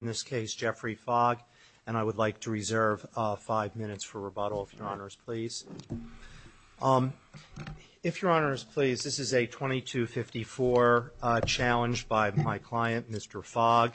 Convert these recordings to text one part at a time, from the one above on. In this case, Geoffrey Fogg, and I would like to reserve five minutes for rebuttal, if your Honors, please, this is a 2254 challenge by my client, Mr. Fogg.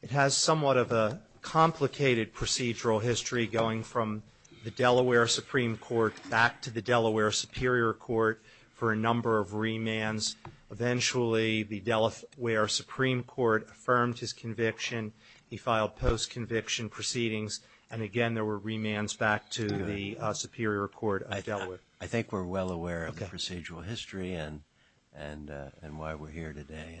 It has somewhat of a complicated procedural history going from the Delaware Supreme Court back to the Delaware Superior Court for a number of remands. Eventually, the Delaware Supreme Court affirmed his conviction. He filed post-conviction proceedings, and again, there were remands back to the Superior Court of Delaware. I think we're well aware of the procedural history and why we're here today.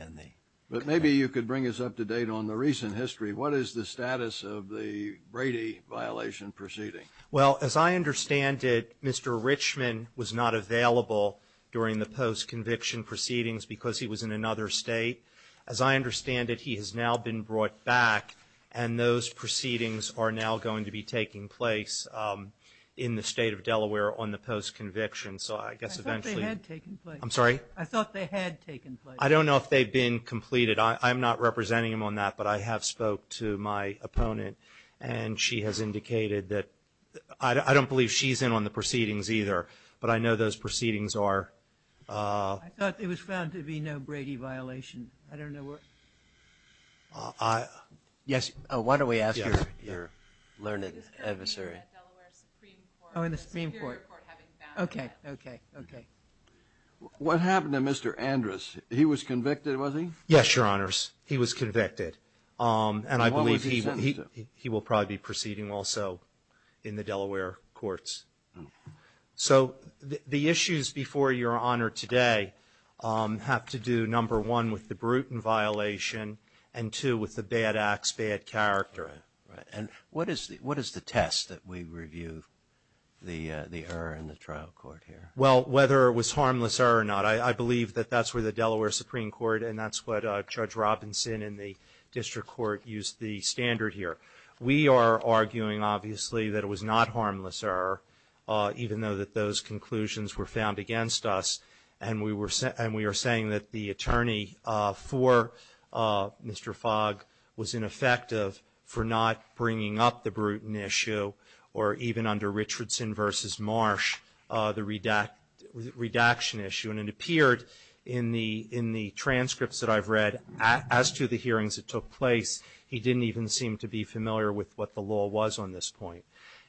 But maybe you could bring us up to date on the recent history. What is the status of the Brady violation proceeding? Well, as I understand it, Mr. Richmond was not available during the post-conviction proceedings because he was in another state. As I understand it, he has now been brought back, and those proceedings are now going to be taking place in the State of Delaware on the post-conviction. I thought they had taken place. I'm sorry? I thought they had taken place. I don't believe she's in on the proceedings either, but I know those proceedings are. I thought it was found to be no Brady violation. I don't know where. Yes. Why don't we ask your learned adversary? Oh, in the Supreme Court. Okay. Okay. Okay. What happened to Mr. Andrus? He was convicted, was he? And what was he sentenced to? He will probably be proceeding also in the Delaware courts. So the issues before Your Honor today have to do, number one, with the Bruton violation, and two, with the bad acts, bad character. Right. And what is the test that we review the error in the trial court here? Well, whether it was harmless error or not, I believe that that's where the Delaware Supreme Court, and that's what Judge Robinson in the district court used the standard here. We are arguing, obviously, that it was not harmless error, even though that those conclusions were found against us, and we are saying that the attorney for Mr. Fogg was ineffective for not bringing up the Bruton issue, or even under Richardson v. Marsh, the redaction issue. And it appeared in the transcripts that I've read as to the hearings that took place, he didn't even seem to be familiar with what the law was on this point.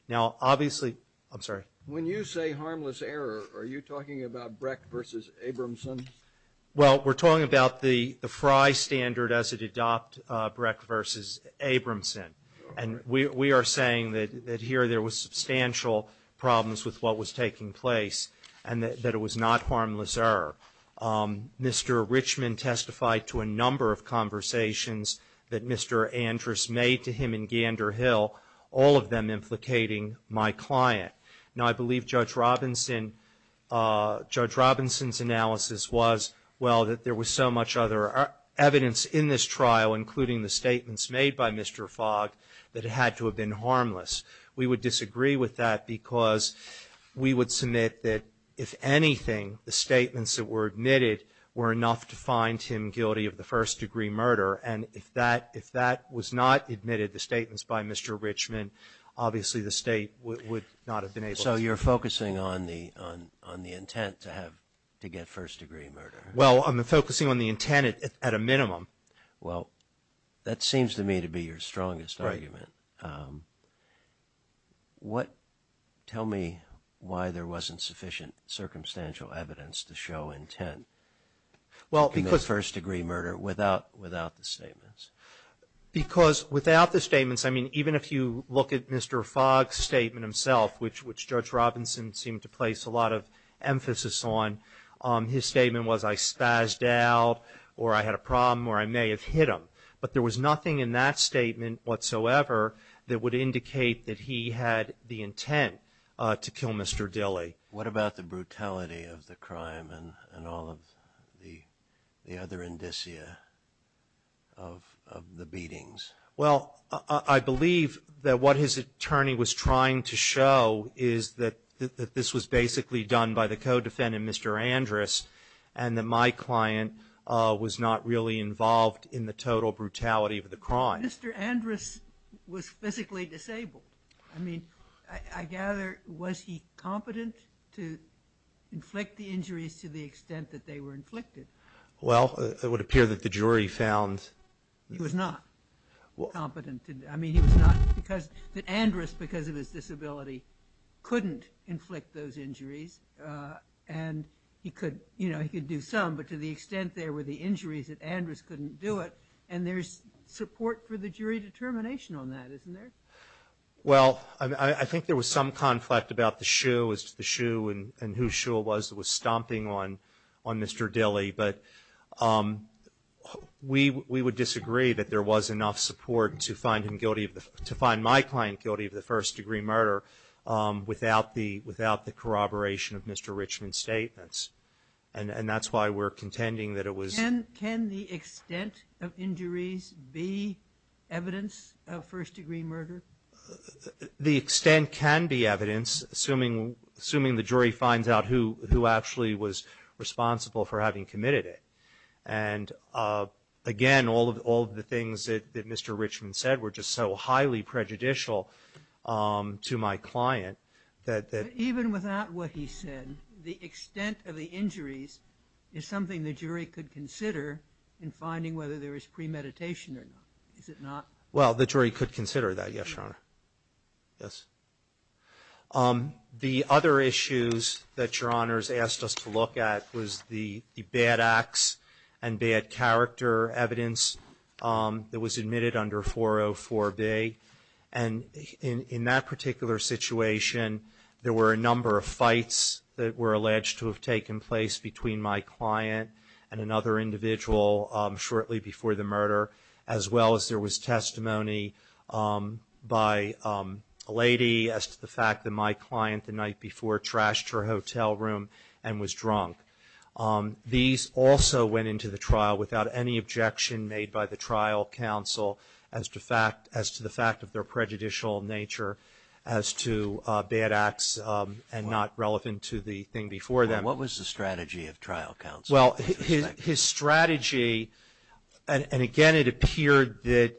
Now, obviously, I'm sorry. When you say harmless error, are you talking about Breck v. Abramson? Well, we're talking about the Frye standard as it adopted Breck v. Abramson. And we are saying that here there was substantial problems with what was taking place, and that it was not harmless error. Mr. Richmond testified to a number of conversations that Mr. Andrus made to him in Gander Hill, all of them implicating my client. Now, I believe Judge Robinson's analysis was, well, that there was so much other evidence in this trial, including the statements made by Mr. Fogg, that it had to have been harmless. We would disagree with that because we would submit that, if anything, the statements that were admitted were enough to find him guilty of the first-degree murder. And if that was not admitted, the statements by Mr. Richmond, obviously the State would not have been able to. So you're focusing on the intent to get first-degree murder? Well, I'm focusing on the intent at a minimum. Well, that seems to me to be your strongest argument. Tell me why there wasn't sufficient circumstantial evidence to show intent in the first-degree murder without the statements. Because without the statements, I mean, even if you look at Mr. Fogg's statement himself, which Judge Robinson seemed to place a lot of emphasis on, his statement was, I spazzed out, or I had a problem, or I may have hit him. But there was nothing in that statement whatsoever that would indicate that he had the intent to kill Mr. Dilley. What about the brutality of the crime and all of the other indicia of the beatings? Well, I believe that what his attorney was trying to show is that this was basically done by the co-defendant, Mr. Andrus, and that my client was not really involved in the total brutality of the crime. Mr. Andrus was physically disabled. I mean, I gather, was he competent to inflict the injuries to the extent that they were inflicted? Well, it would appear that the jury found he was not. I mean, he was not, because Andrus, because of his disability, couldn't inflict those injuries, and he could do some, but to the extent there were the injuries that Andrus couldn't do it, and there's support for the jury determination on that, isn't there? Well, I think there was some conflict about the shoe and whose shoe it was that was stomping on Mr. Dilley, but we would disagree that there was enough support to find him guilty, to find my client guilty of the first-degree murder without the corroboration of Mr. Richman's statements, and that's why we're contending that it was. Can the extent of injuries be evidence of first-degree murder? The extent can be evidence, assuming the jury finds out who actually was responsible for having committed it, and again, all of the things that Mr. Richman said were just so highly prejudicial to my client that... Even without what he said, the extent of the injuries is something the jury could consider in finding whether there was premeditation or not, is it not? Well, the jury could consider that, yes, Your Honor. The other issues that Your Honor has asked us to look at was the bad acts and bad character evidence that was admitted under 404B, and in that particular situation, there were a number of fights that were alleged to have taken place between my client and another individual shortly before the murder, as well as there was testimony by a lady as to the fact that my client the night before trashed her hotel room and was drunk. These also went into the trial without any objection made by the trial counsel as to the fact of their prejudicial nature as to bad acts and not relevant to the thing before them. What was the strategy of trial counsel? Well, his strategy, and again, it appeared that,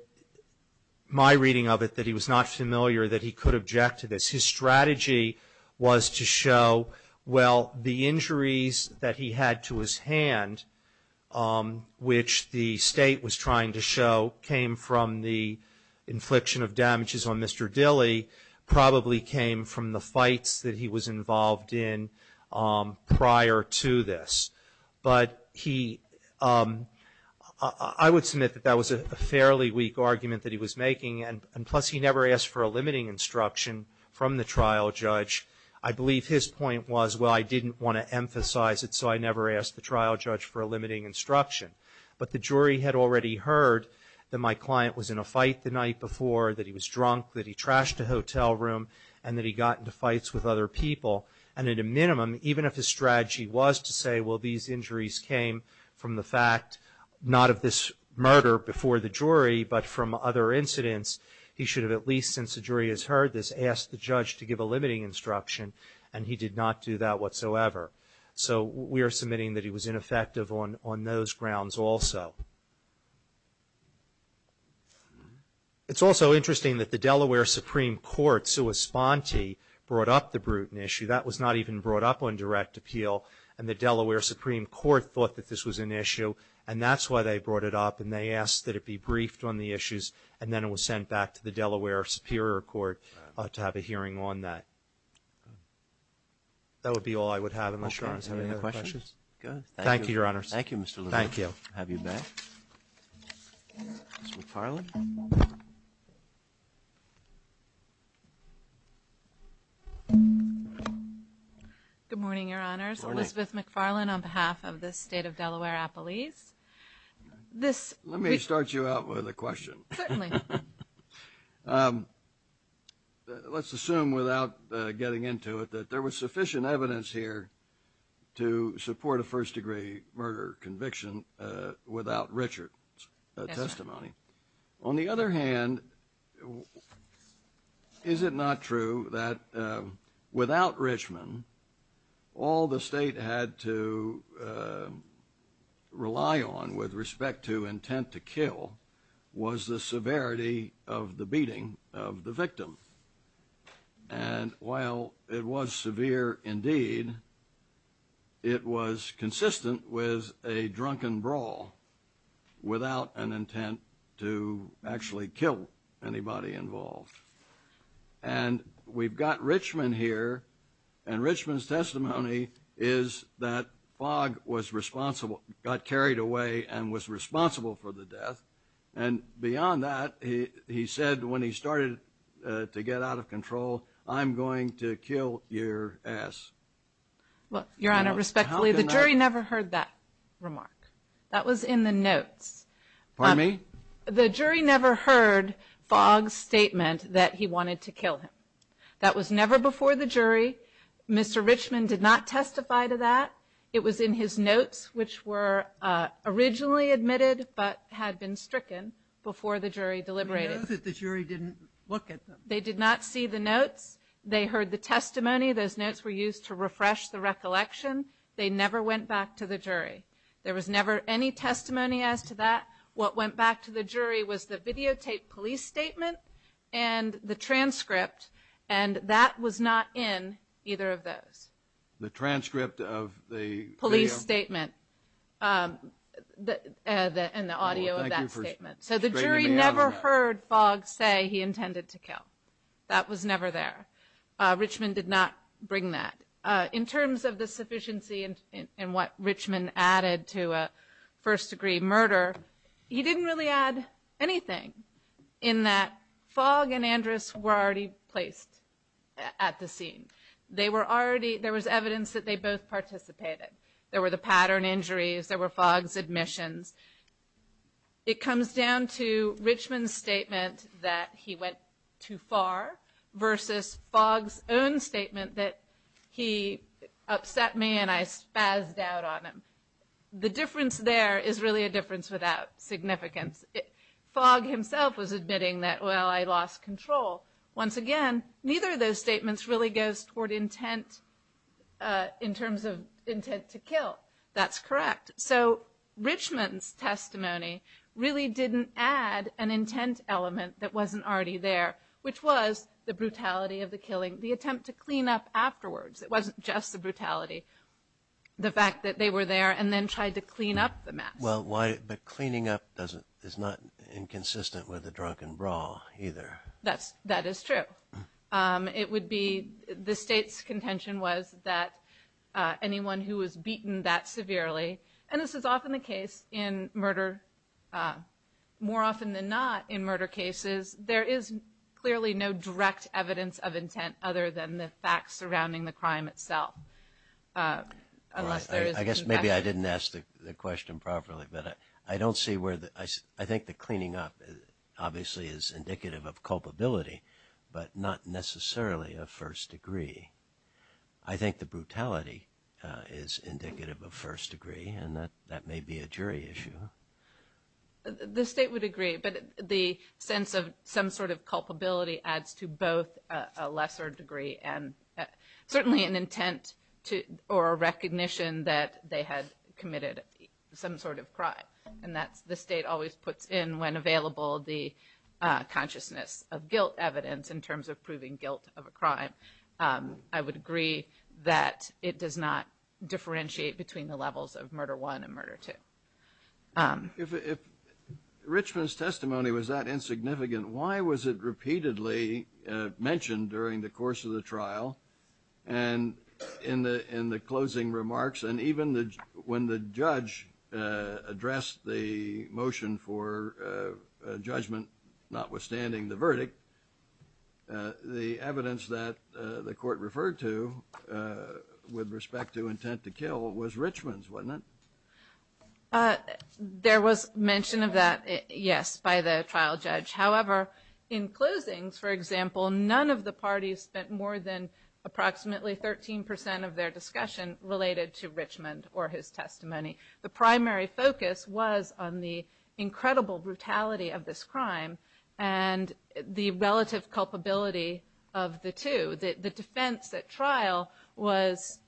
my reading of it, that he was not familiar that he could object to this. His strategy was to show, well, the injuries that he had to his hand, which the State was trying to show came from the infliction of damages on Mr. Dilley, probably came from the fights that he was involved in prior to this. But I would submit that that was a fairly weak argument that he was making, and plus he never asked for a limiting instruction from the trial judge. I believe his point was, well, I didn't want to emphasize it, so I never asked the trial judge for a limiting instruction. But the jury had already heard that my client was in a fight the night before, that he was drunk, that he trashed a hotel room, and that he got into fights with other people. And at a minimum, even if his strategy was to say, well, these injuries came from the fact not of this murder before the jury, but from other incidents, he should have at least, since the jury has heard this, asked the judge to give a limiting instruction, and he did not do that whatsoever. So we are submitting that he was ineffective on those grounds also. It's also interesting that the Delaware Supreme Court, sue Esponti, brought up the Bruton issue. That was not even brought up on direct appeal, and the Delaware Supreme Court thought that this was an issue, and that's why they brought it up, and they asked that it be briefed on the issues, and then it was sent back to the Delaware Superior Court to have a hearing on that. That would be all I would have, I'm not sure. Roberts. Okay. Any other questions? Go ahead. Thank you, Your Honors. Thank you, Mr. Levin. We'll have you back. Ms. McFarland. Good morning, Your Honors. Good morning. Elizabeth McFarland on behalf of the state of Delaware-Appalachia. Let me start you out with a question. Certainly. Let's assume without getting into it that there was sufficient evidence here to support a first-degree murder conviction without Richard's testimony. Yes, sir. On the other hand, is it not true that without Richmond, all the state had to rely on with respect to intent to kill And while it was severe indeed, it was consistent with a drunken brawl without an intent to actually kill anybody involved. And we've got Richmond here, and Richmond's testimony is that Fogg was responsible, got carried away, and was responsible for the death. And beyond that, he said when he started to get out of control, I'm going to kill your ass. Your Honor, respectfully, the jury never heard that remark. That was in the notes. Pardon me? The jury never heard Fogg's statement that he wanted to kill him. That was never before the jury. Mr. Richmond did not testify to that. It was in his notes, which were originally admitted but had been stricken before the jury deliberated. But he knows that the jury didn't look at them. They did not see the notes. They heard the testimony. Those notes were used to refresh the recollection. They never went back to the jury. There was never any testimony as to that. What went back to the jury was the videotaped police statement and the transcript, and that was not in either of those. The transcript of the video? Police statement and the audio of that statement. So the jury never heard Fogg say he intended to kill. That was never there. Richmond did not bring that. In terms of the sufficiency in what Richmond added to a first-degree murder, he didn't really add anything in that Fogg and Andrus were already placed at the scene. There was evidence that they both participated. There were the pattern injuries. There were Fogg's admissions. It comes down to Richmond's statement that he went too far versus Fogg's own statement that he upset me and I spazzed out on him. The difference there is really a difference without significance. Fogg himself was admitting that, well, I lost control. Once again, neither of those statements really goes toward intent in terms of intent to kill. That's correct. So Richmond's testimony really didn't add an intent element that wasn't already there, which was the brutality of the killing, the attempt to clean up afterwards. It wasn't just the brutality, the fact that they were there and then tried to clean up the mess. But cleaning up is not inconsistent with a drunken brawl either. That is true. It would be the State's contention was that anyone who was beaten that severely, and this is often the case in murder, more often than not in murder cases, there is clearly no direct evidence of intent other than the facts surrounding the crime itself. I guess maybe I didn't ask the question properly. But I don't see where the – I think the cleaning up obviously is indicative of culpability, but not necessarily of first degree. I think the brutality is indicative of first degree, and that may be a jury issue. The State would agree, but the sense of some sort of culpability adds to both a lesser degree and certainly an intent or a recognition that they had committed some sort of crime, and that the State always puts in when available the consciousness of guilt evidence in terms of proving guilt of a crime. I would agree that it does not differentiate between the levels of murder one and murder two. If Richmond's testimony was that insignificant, why was it repeatedly mentioned during the course of the trial and in the closing remarks? And even when the judge addressed the motion for judgment notwithstanding the verdict, the evidence that the court referred to with respect to intent to kill was Richmond's, wasn't it? There was mention of that, yes, by the trial judge. However, in closings, for example, none of the parties spent more than approximately 13 percent of their discussion related to Richmond or his testimony. The primary focus was on the incredible brutality of this crime and the relative culpability of the two. The defense at trial was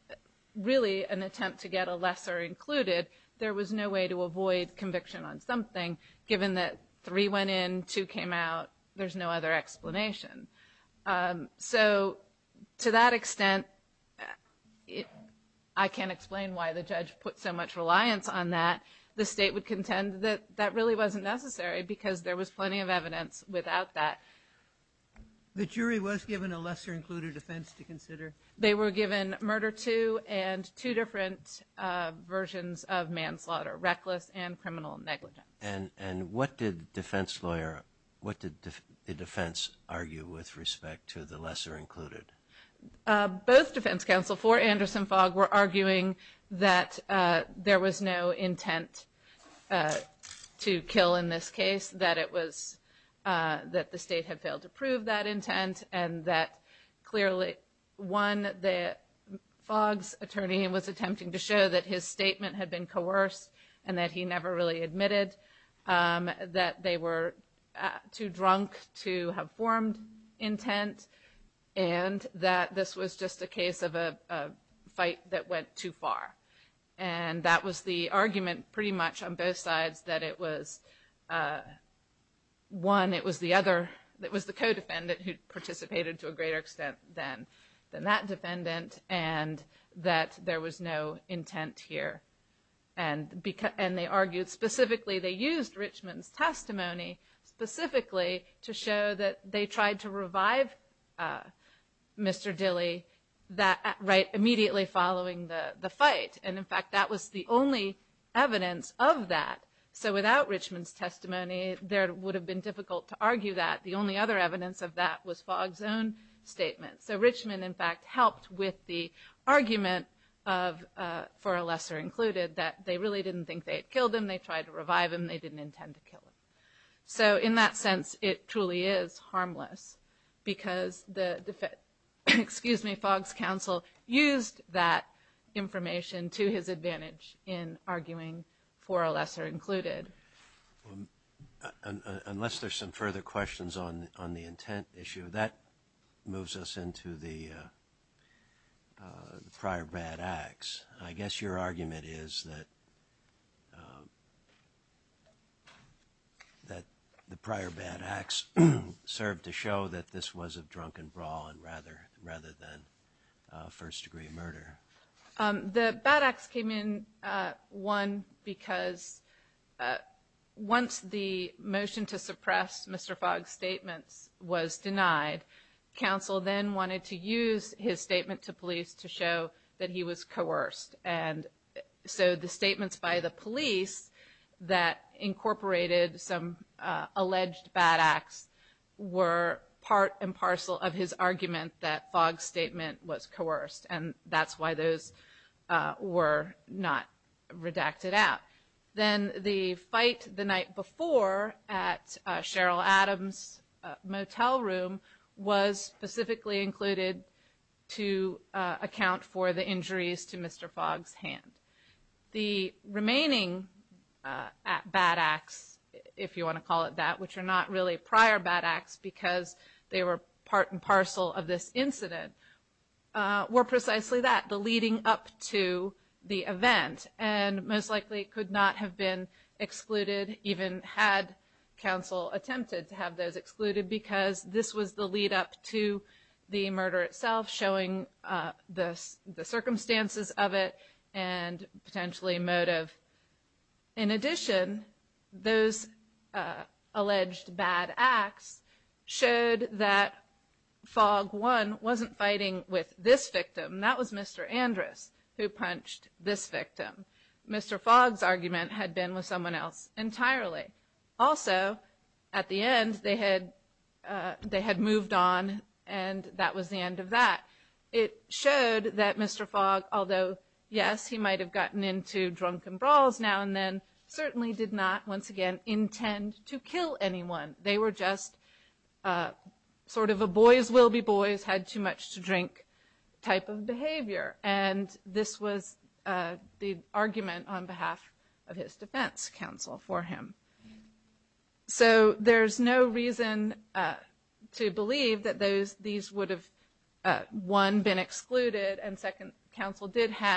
really an attempt to get a lesser included. There was no way to avoid conviction on something given that three went in, two came out, there's no other explanation. So to that extent, I can't explain why the judge put so much reliance on that. The State would contend that that really wasn't necessary because there was plenty of evidence without that. The jury was given a lesser included offense to consider? They were given murder two and two different versions of manslaughter, reckless and criminal negligence. And what did the defense argue with respect to the lesser included? Both defense counsel for Anderson-Fogg were arguing that there was no intent to kill in this case, that the State had failed to prove that intent and that clearly one, the Fogg's attorney was attempting to show that his statement had been coerced and that he never really admitted that they were too drunk to have formed intent and that this was just a case of a fight that went too far. And that was the argument pretty much on both sides that it was one, it was the co-defendant who participated to a greater extent than that defendant and that there was no intent here. And they argued specifically, they used Richmond's testimony specifically to show that they tried to revive Mr. Dilley immediately following the fight. And in fact, that was the only evidence of that. So without Richmond's testimony, there would have been difficult to argue that. The only other evidence of that was Fogg's own statement. So Richmond, in fact, helped with the argument for a lesser included that they really didn't think they had killed him. They tried to revive him. They didn't intend to kill him. So in that sense, it truly is harmless because the defendant, excuse me, Fogg's counsel used that information to his advantage in arguing for a lesser included. Unless there's some further questions on the intent issue, that moves us into the prior bad acts. I guess your argument is that the prior bad acts served to show that this was a drunken brawl rather than first degree murder. The bad acts came in, one, because once the motion to suppress Mr. Fogg's statements was denied, counsel then wanted to use his statement to police to show that he was coerced. And so the statements by the police that incorporated some alleged bad acts were part and parcel of his argument that Fogg's statement was coerced, and that's why those were not redacted out. Then the fight the night before at Cheryl Adams' motel room was specifically included to account for the injuries to Mr. Fogg's hand. The remaining bad acts, if you want to call it that, which are not really prior bad acts because they were part and parcel of this incident, were precisely that, the leading up to the event, and most likely could not have been excluded even had counsel attempted to have those excluded because this was the lead up to the murder itself, showing the circumstances of it and potentially motive. In addition, those alleged bad acts showed that Fogg, one, wasn't fighting with this victim, that was Mr. Andress who punched this victim. Mr. Fogg's argument had been with someone else entirely. Also, at the end, they had moved on and that was the end of that. It showed that Mr. Fogg, although, yes, he might have gotten into drunken brawls now and then, certainly did not, once again, intend to kill anyone. They were just sort of a boys will be boys, had too much to drink type of behavior. And this was the argument on behalf of his defense counsel for him. So there's no reason to believe that these would have, one, been excluded, and second, counsel did have.